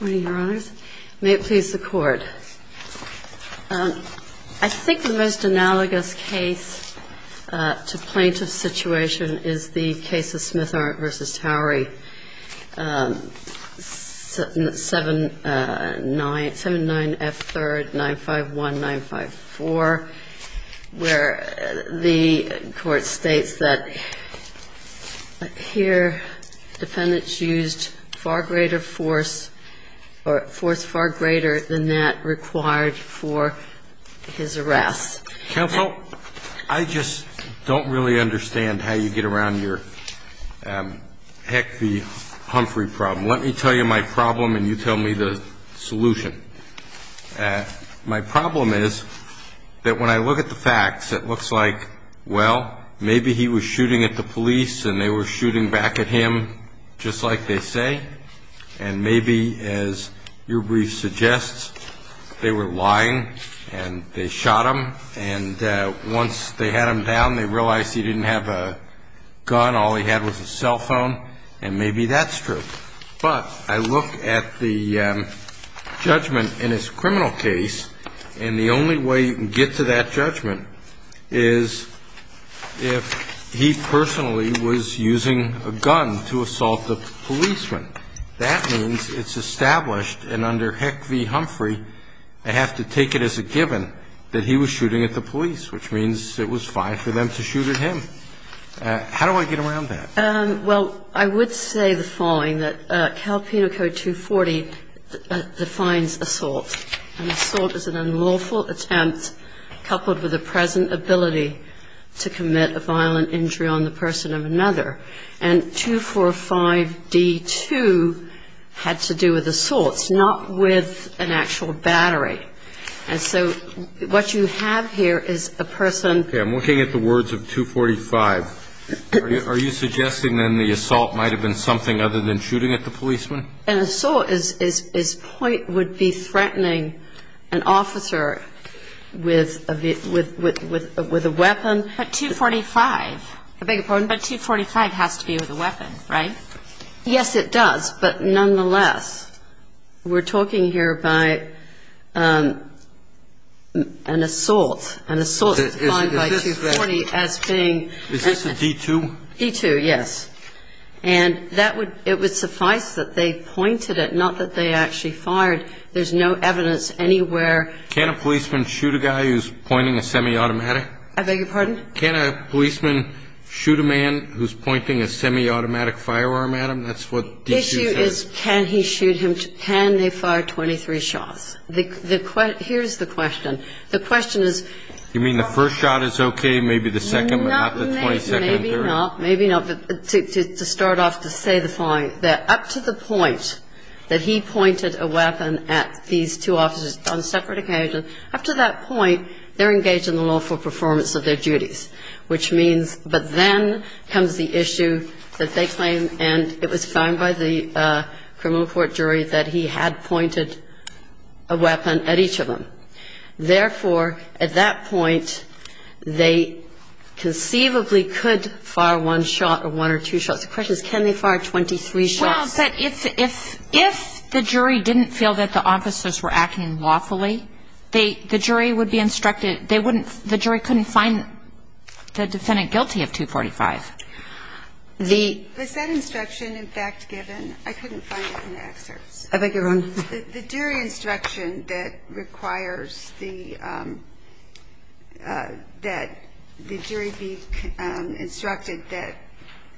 May it please the Court. I think the most analogous case to plaintiff situation is the case of Smith-Arndt v. Towery, 7-9F3-951-954, where the Court states that here, defendants used far greater force than the plaintiff, and the plaintiff did not use any force at all. Counsel, I just don't really understand how you get around your, heck, the Humphrey problem. Let me tell you my problem and you tell me the solution. My problem is that when I look at the facts, it looks like, well, maybe he was shooting at the police and they were shooting back at him, just like they say, and maybe, as your brief suggests, they were lying and they shot him, and once they had him down, they realized he didn't have a gun, all he had was a cell phone, and maybe that's true. But I look at the judgment in his criminal case, and the only way you can get to that judgment is if he personally was using a gun to assault the policeman. That means it's established, and under Heck v. Humphrey, I have to take it as a given that he was shooting at the police, which means it was fine for them to shoot at him. How do I get around that? Well, I would say the following, that Cal Penal Code 240 defines assault, and assault is an unlawful attempt coupled with a present ability to commit a violent injury on the person of another. And 245d-2 had to do with assaults, not with an actual battery. And so what you have here is a person Okay, I'm looking at the words of 245. Are you suggesting, then, the assault might have been something other than shooting at the policeman? An assault would be threatening an officer with a weapon. But 245 has to be with a weapon, right? Yes, it does, but nonetheless, we're talking here by an assault. An assault defined by 240 as being Is this a D-2? D-2, yes. And that would, it would suffice that they pointed it, not that they actually fired. There's no evidence anywhere Can a policeman shoot a guy who's pointing a semi-automatic? I beg your pardon? Can a policeman shoot a man who's pointing a semi-automatic firearm at him? That's what D-2 says. The issue is can he shoot him, can they fire 23 shots? Here's the question. The question is You mean the first shot is okay, maybe the second, not the 22nd and third? Maybe not, maybe not. But to start off, to say the following, that up to the point that he pointed a weapon at these two officers on separate occasions, up to that point, they're engaged in the lawful performance of their duties. Which means, but then comes the issue that they claim, and it was found by the criminal court jury, that he had pointed a weapon at each of them. Therefore, at that point, they conceivably could fire one shot or one or two shots. The question is can they fire 23 shots? Well, but if the jury didn't feel that the officers were acting lawfully, the jury would be instructed, they wouldn't, the jury couldn't find the defendant guilty of 245. The Was that instruction in fact given? I couldn't find it in the excerpts. I beg your pardon? The jury instruction that requires the, that the jury be instructed that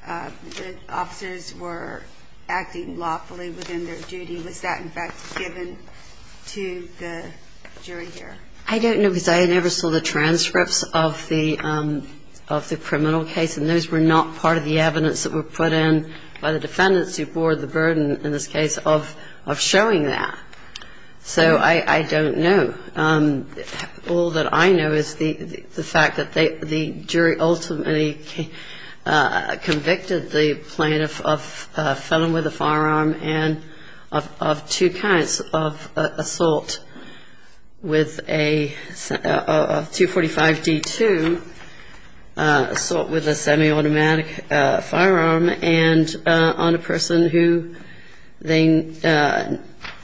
the officers were acting lawfully within their duty, was that in fact given to the jury here? I don't know, because I never saw the transcripts of the criminal case, and those were not part of the evidence that were put in by the defendants who bore the burden, in this case, of showing that. So I don't know. All that I know is the fact that the jury ultimately convicted the plaintiff of felon with a firearm and of two counts of assault with a, of 245 D2, assault with a semi-automatic firearm, and on a person who they,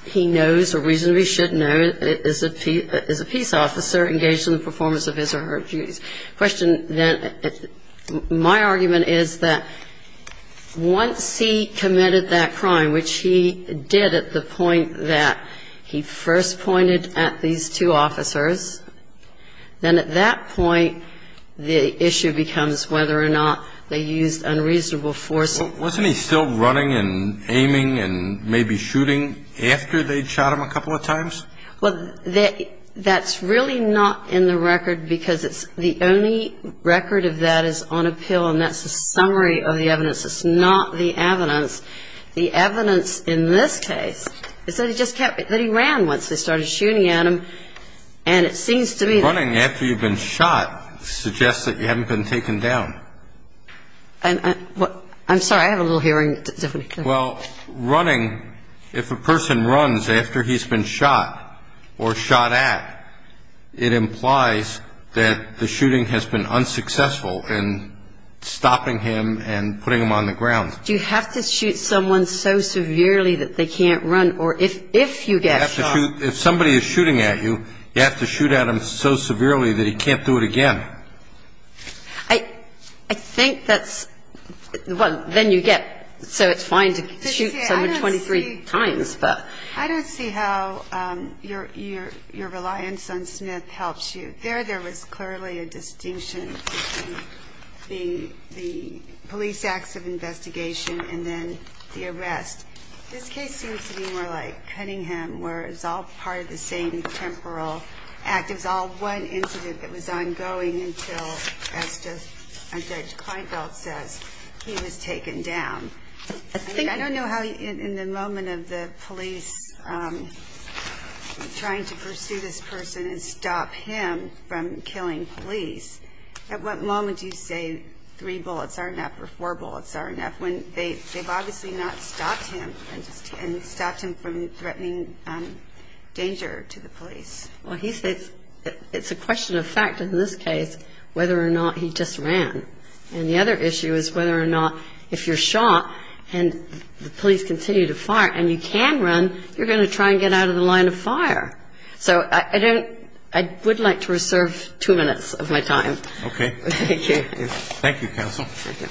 he knows or reasonably should know is a peace officer engaged in the performance of his or her duties. The question then, my argument is that once he committed that crime, which he did at the point that he first pointed at these two officers, then at that point the issue becomes whether or not they used unreasonable force. Well, wasn't he still running and aiming and maybe shooting after they'd shot him a couple of times? Well, that's really not in the record, because it's, the only record of that is on appeal, and that's a summary of the evidence. It's not the evidence. The evidence in this case is that he just kept, that he ran once they started shooting at him, and it seems to me that Running after you've been shot suggests that you haven't been taken down. I'm sorry, I have a little hearing difficulty. Well, running, if a person runs after he's been shot or shot at, it implies that the shooting has been unsuccessful in stopping him and putting him on the ground. Do you have to shoot someone so severely that they can't run, or if you get shot You have to shoot, if somebody is shooting at you, you have to shoot at them so severely that he can't do it again. I think that's, well, then you get, so it's fine to shoot someone 23 times, but I don't see how your reliance on Smith helps you. There, there was clearly a distinction between the police acts of investigation and then the arrest. This case seems to me more like Cunningham, where it's all part of the same temporal act. It was all one incident that was ongoing until, as Judge Kleinfeld says, he was taken down. I don't know how, in the moment of the police trying to pursue this person and stop him from killing police, at what moment do you say three bullets aren't enough or four bullets aren't enough, when they've obviously not stopped him and stopped him from threatening danger to the police? Well, he says it's a question of fact in this case whether or not he just ran. And the other issue is whether or not if you're shot and the police continue to fire and you can run, you're going to try and get out of the line of fire. So I don't, I would like to reserve two minutes of my time. Okay. Thank you. Thank you, counsel. Thank you.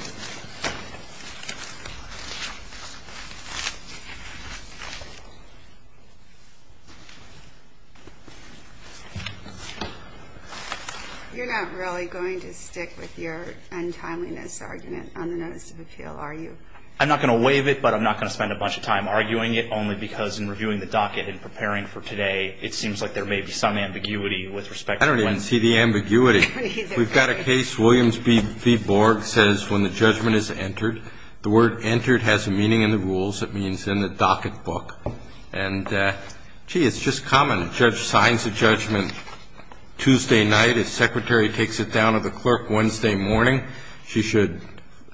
You're not really going to stick with your untimeliness argument on the notice of appeal, are you? I'm not going to waive it, but I'm not going to spend a bunch of time arguing it, only because in reviewing the docket and preparing for today, it seems like there may be some ambiguity with respect to when. I don't even see the ambiguity. We've got a case, Williams v. Borg, says when the judgment is entered, the word entered has a meaning in the rules that means in the docket book. And, gee, it's just common. Judge signs a judgment Tuesday night. His secretary takes it down to the clerk Wednesday morning. She should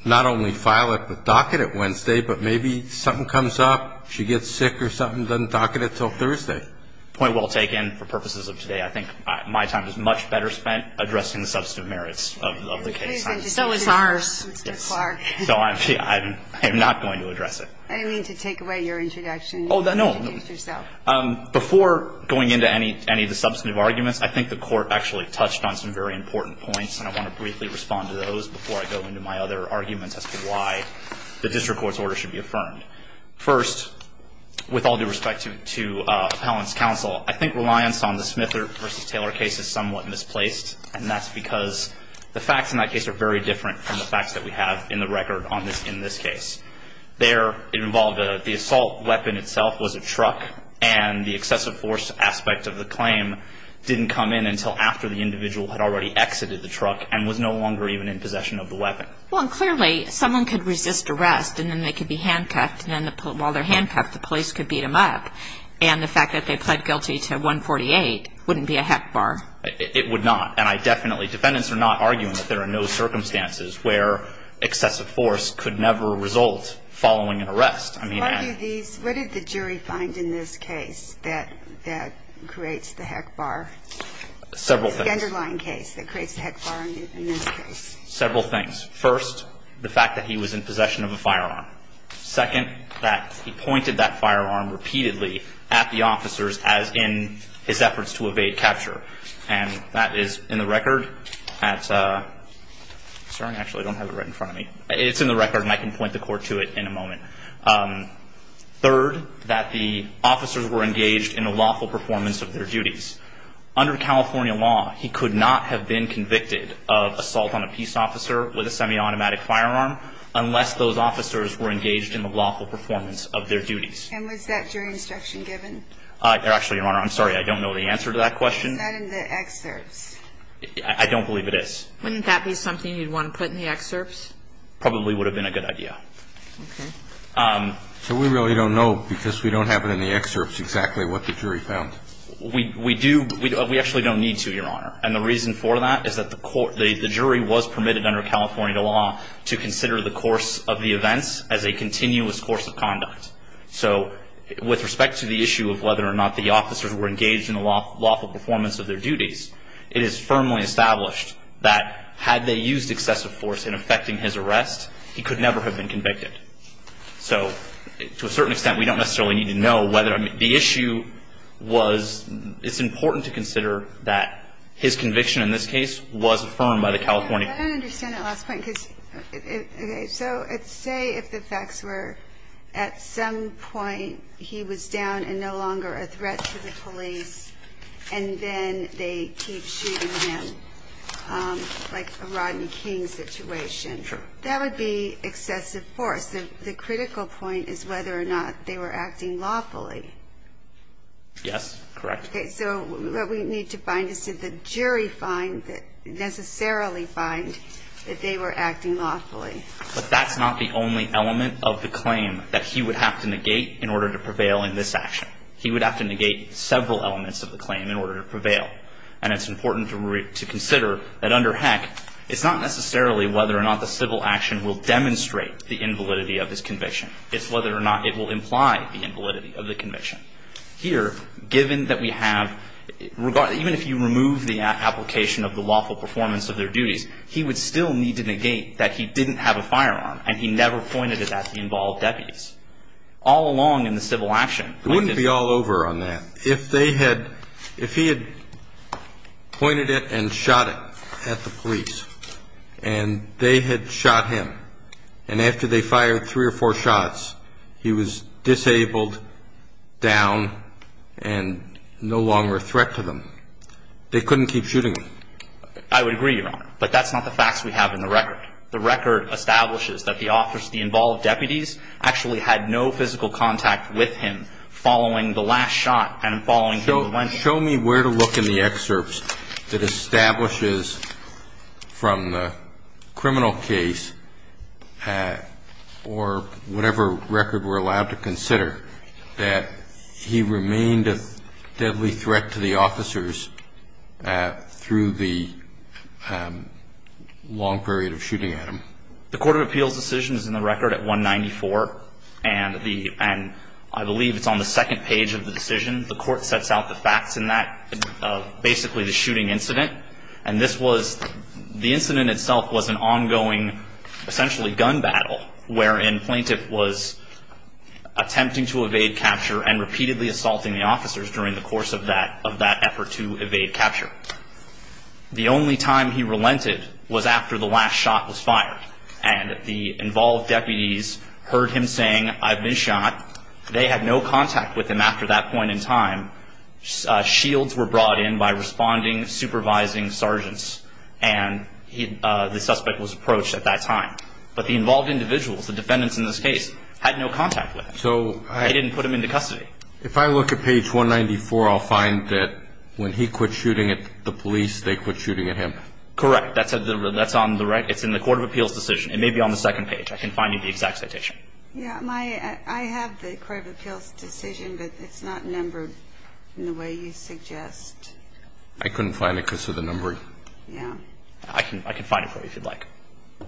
not only file it with docket at Wednesday, but maybe something comes up, she gets sick or something, doesn't docket it until Thursday. Point well taken. For purposes of today, I think my time is much better spent addressing the substantive merits of the case. So is ours. So I'm not going to address it. I didn't mean to take away your introduction. Oh, no. Introduce yourself. Before going into any of the substantive arguments, I think the Court actually touched on some very important points, and I want to briefly respond to those before I go into my other arguments as to why the district court's order should be affirmed. First, with all due respect to appellant's counsel, I think reliance on the Smith v. Taylor case is somewhat misplaced, and that's because the facts in that case are very different from the facts that we have in the record in this case. There it involved the assault weapon itself was a truck, and the excessive force aspect of the claim didn't come in until after the individual had already exited the truck and was no longer even in possession of the weapon. Well, and clearly someone could resist arrest, and then they could be handcuffed, and while they're handcuffed, the police could beat them up, and the fact that they pled guilty to 148 wouldn't be a heck bar. It would not. And I definitely, defendants are not arguing that there are no circumstances where excessive force could never result following an arrest. What did the jury find in this case that creates the heck bar? Several things. The underlying case that creates the heck bar in this case. Several things. First, the fact that he was in possession of a firearm. Second, that he pointed that firearm repeatedly at the officers as in his efforts to evade capture, and that is in the record at, sorry, I actually don't have it right in front of me. It's in the record, and I can point the court to it in a moment. Third, that the officers were engaged in the lawful performance of their duties. Under California law, he could not have been convicted of assault on a peace officer with a semi-automatic firearm unless those officers were engaged in the lawful performance of their duties. And was that jury instruction given? Actually, Your Honor, I'm sorry, I don't know the answer to that question. Isn't that in the excerpts? I don't believe it is. Wouldn't that be something you'd want to put in the excerpts? Probably would have been a good idea. Okay. So we really don't know because we don't have it in the excerpts exactly what the jury found. We actually don't need to, Your Honor, and the reason for that is that the jury was permitted under California law to consider the course of the events as a continuous course of conduct. So with respect to the issue of whether or not the officers were engaged in the lawful performance of their duties, it is firmly established that had they used excessive force in effecting his arrest, he could never have been convicted. So to a certain extent, we don't necessarily need to know whether the issue was, it's important to consider that his conviction in this case was affirmed by the California court. I don't understand that last point. Okay. So let's say if the facts were at some point he was down and no longer a threat to the police and then they keep shooting him like a Rodney King situation. Sure. That would be excessive force. The critical point is whether or not they were acting lawfully. Yes, correct. Okay, so what we need to find is did the jury necessarily find that they were acting lawfully? But that's not the only element of the claim that he would have to negate in order to prevail in this action. He would have to negate several elements of the claim in order to prevail, and it's important to consider that under Heck, it's not necessarily whether or not the civil action will demonstrate the invalidity of his conviction. It's whether or not it will imply the invalidity of the conviction. Here, given that we have, even if you remove the application of the lawful performance of their duties, he would still need to negate that he didn't have a firearm and he never pointed it at the involved deputies all along in the civil action. It wouldn't be all over on that. If they had, if he had pointed it and shot it at the police and they had shot him and after they fired three or four shots, he was disabled, down, and no longer a threat to them, they couldn't keep shooting him. I would agree, Your Honor, but that's not the facts we have in the record. The record establishes that the officers, the involved deputies, actually had no physical contact with him following the last shot and following him when he was shot. Show me where to look in the excerpts that establishes from the criminal case or whatever record we're allowed to consider that he remained a deadly threat to the officers through the long period of shooting at him. The court of appeals decision is in the record at 194, and the, and I believe it's on the second page of the decision. The court sets out the facts in that, basically the shooting incident, and this was, the incident itself was an ongoing essentially gun battle wherein plaintiff was attempting to evade capture and repeatedly assaulting the officers during the course of that effort to evade capture. The only time he relented was after the last shot was fired, and the involved deputies heard him saying, I've been shot. They had no contact with him after that point in time. Shields were brought in by responding supervising sergeants, and the suspect was approached at that time. But the involved individuals, the defendants in this case, had no contact with him. They didn't put him into custody. If I look at page 194, I'll find that when he quit shooting at the police, they quit shooting at him. Correct. That's on the right. It's in the court of appeals decision. It may be on the second page. I can find you the exact citation. Yeah. I have the court of appeals decision, but it's not numbered in the way you suggest. I couldn't find it because of the number. Yeah. I can find it for you if you'd like.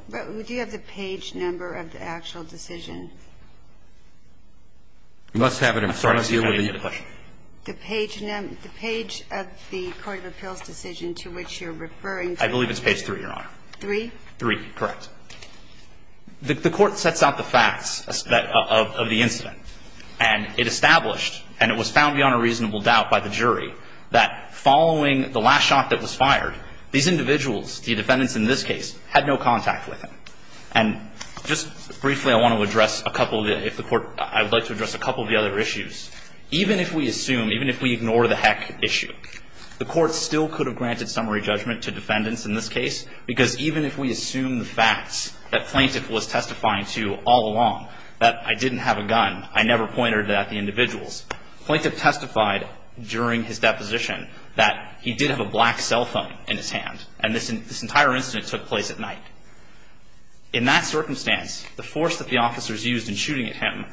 But do you have the page number of the actual decision? You must have it in front of you. I'm sorry. I didn't get the question. The page of the court of appeals decision to which you're referring to. I believe it's page 3, Your Honor. 3? 3. Correct. The court sets out the facts of the incident. And it established, and it was found beyond a reasonable doubt by the jury, that following the last shot that was fired, these individuals, the defendants in this case, had no contact with him. And just briefly, I want to address a couple of the other issues. Even if we assume, even if we ignore the heck issue, the court still could have granted summary judgment to defendants in this case because even if we assume the facts that Plaintiff was testifying to all along, that I didn't have a gun, I never pointed at the individuals, Plaintiff testified during his deposition that he did have a black cell phone in his hand, and this entire incident took place at night. In that circumstance, the force that the officers used in shooting at him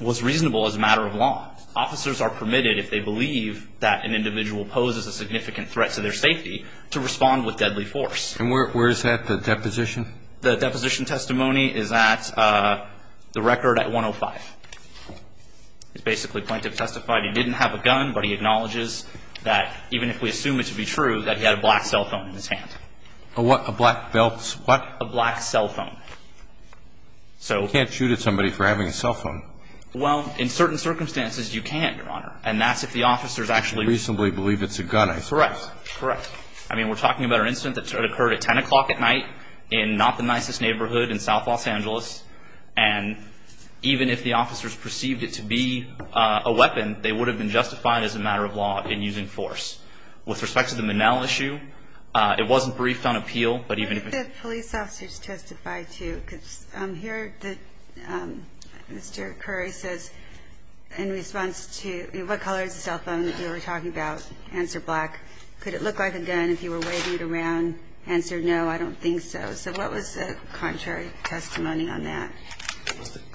was reasonable as a matter of law. Officers are permitted, if they believe that an individual poses a significant threat to their safety, to respond with deadly force. And where is that, the deposition? The deposition testimony is at the record at 105. It's basically Plaintiff testified he didn't have a gun, but he acknowledges that even if we assume it to be true, that he had a black cell phone in his hand. A what? A black belt? What? A black cell phone. You can't shoot at somebody for having a cell phone. Well, in certain circumstances, you can, Your Honor, and that's if the officers actually reasonably believe it's a gun. That's correct. Correct. I mean, we're talking about an incident that occurred at 10 o'clock at night in not the nicest neighborhood in south Los Angeles, and even if the officers perceived it to be a weapon, they would have been justified as a matter of law in using force. With respect to the Minnell issue, it wasn't briefed on appeal, but even if it was. Well, did the police officer testify to, here Mr. Curry says in response to what color is the cell phone that you were talking about? Answer, black. Could it look like a gun if you were waving it around? Answer, no, I don't think so. So what was the contrary testimony on that?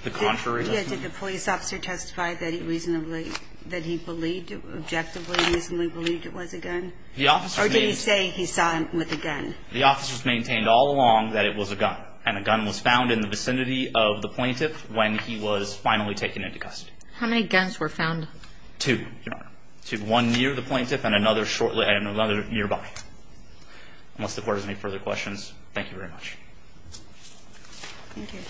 The contrary testimony? Did the police officer testify that he reasonably, that he believed, objectively reasonably believed it was a gun? The officer's main. Or did he say he saw him with a gun? The officer's maintained all along that it was a gun, and a gun was found in the vicinity of the plaintiff when he was finally taken into custody. How many guns were found? Two, Your Honor. Two, one near the plaintiff and another nearby. Unless the court has any further questions, thank you very much. Thank you.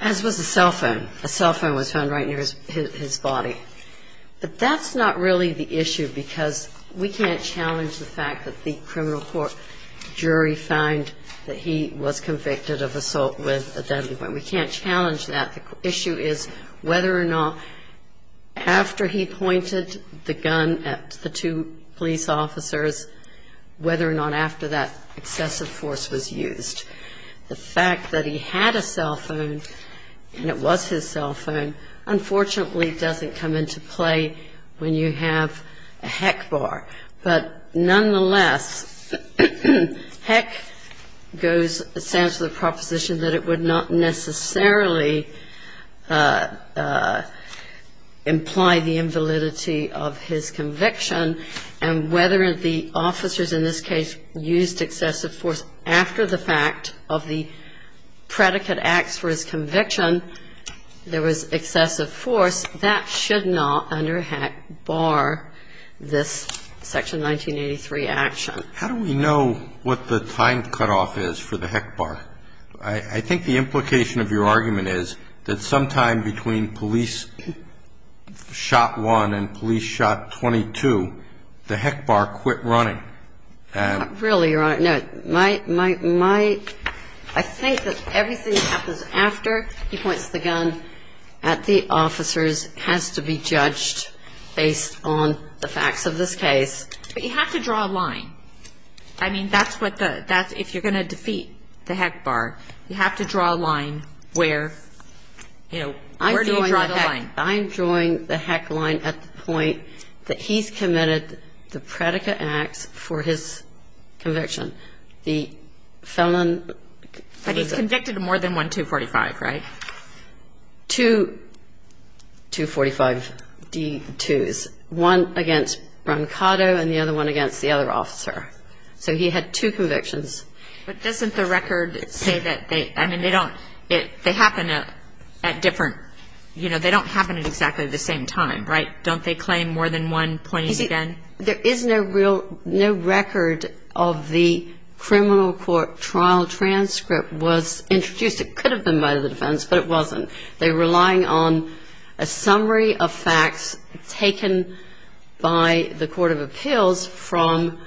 As was the cell phone. A cell phone was found right near his body. But that's not really the issue because we can't challenge the fact that the criminal court jury found that he was convicted of assault with a deadly weapon. We can't challenge that. The issue is whether or not after he pointed the gun at the two police officers, whether or not after that excessive force was used. The fact that he had a cell phone and it was his cell phone unfortunately doesn't come into play when you have a heck bar. But nonetheless, heck goes, stands for the proposition that it would not necessarily imply the invalidity of his conviction. And whether the officers in this case used excessive force after the fact of the predicate acts for his conviction, there was excessive force, that should not under heck bar this Section 1983 action. How do we know what the time cutoff is for the heck bar? I think the implication of your argument is that sometime between police shot one and police shot 22, the heck bar quit running. Not really, Your Honor. No, my, my, my, I think that everything that happens after he points the gun at the officers has to be judged based on the facts of this case. But you have to draw a line. I mean, that's what the, if you're going to defeat the heck bar, you have to draw a line where, you know, where do you draw the line? I'm drawing the heck line at the point that he's committed the predicate acts for his conviction. The felon. But he's convicted of more than one 245, right? Two 245D2s, one against Brancato and the other one against the other officer. So he had two convictions. But doesn't the record say that they, I mean, they don't, they happen at different, you know, they don't happen at exactly the same time, right? Don't they claim more than one pointy gun? There is no real, no record of the criminal court trial transcript was introduced. It could have been by the defense, but it wasn't. They're relying on a summary of facts taken by the court of appeals from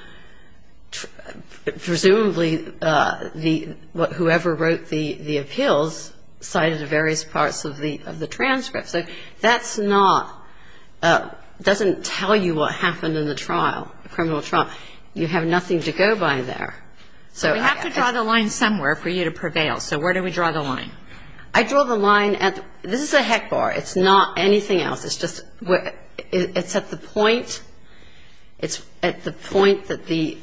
presumably the, whoever wrote the appeals cited the various parts of the transcript. So that's not, doesn't tell you what happened in the trial, the criminal trial. You have nothing to go by there. So I have to draw the line somewhere for you to prevail. So where do we draw the line? I draw the line at, this is a heck bar. It's not anything else. It's just, it's at the point, it's at the point that the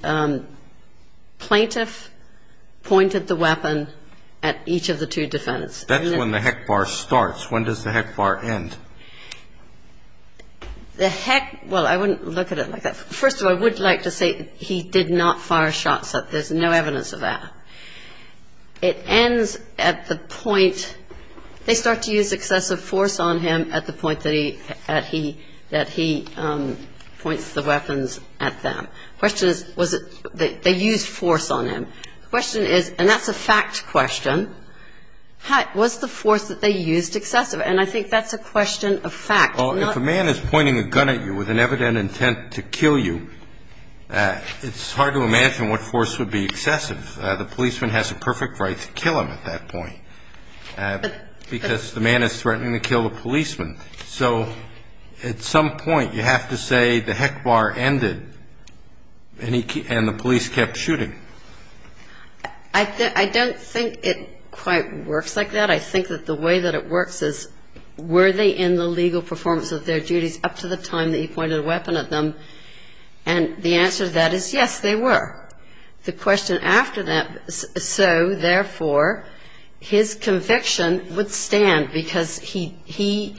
plaintiff pointed the weapon at each of the two defendants. That's when the heck bar starts. When does the heck bar end? The heck, well, I wouldn't look at it like that. First of all, I would like to say he did not fire shots. There's no evidence of that. It ends at the point, they start to use excessive force on him at the point that he points the weapons at them. The question is, was it, they used force on him. The question is, and that's a fact question, was the force that they used excessive? And I think that's a question of fact. Well, if a man is pointing a gun at you with an evident intent to kill you, it's hard to imagine what force would be excessive. The policeman has a perfect right to kill him at that point because the man is threatening to kill the policeman. So at some point you have to say the heck bar ended and the police kept shooting. I don't think it quite works like that. I think that the way that it works is, were they in the legal performance of their duties up to the time that he pointed a weapon at them? And the answer to that is, yes, they were. The question after that, so, therefore, his conviction would stand because he, he,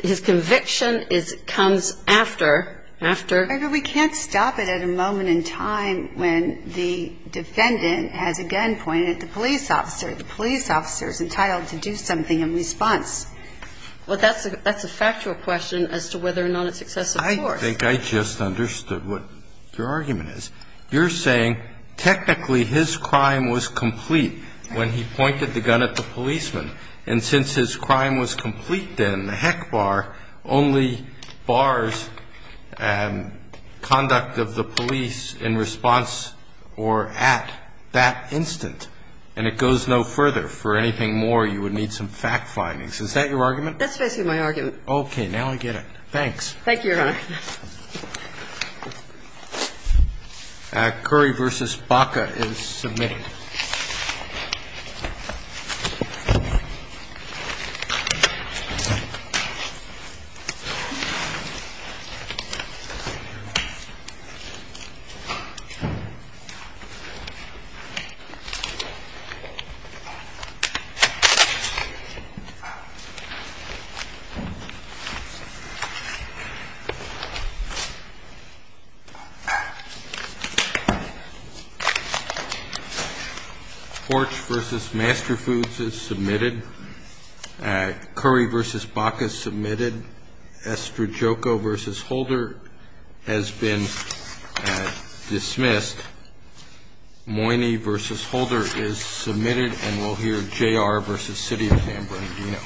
his conviction is, comes after, after. Maybe we can't stop it at a moment in time when the defendant has a gun pointed at the police officer. The police officer is entitled to do something in response. Well, that's a factual question as to whether or not it's excessive force. I think I just understood what your argument is. You're saying technically his crime was complete when he pointed the gun at the policeman. And since his crime was complete then, the heck bar only bars conduct of the police in response or at that instant. And it goes no further. For anything more, you would need some fact findings. Is that your argument? That's basically my argument. Now I get it. Thanks. Thank you, Your Honor. Thank you. Thank you. The case is submitted. Porch v. Master Foods is submitted. Curry v. Baca is submitted. Estrajoco v. Holder has been dismissed. Moyni v. Holder is submitted. And we'll hear J.R. v. City of San Bernardino.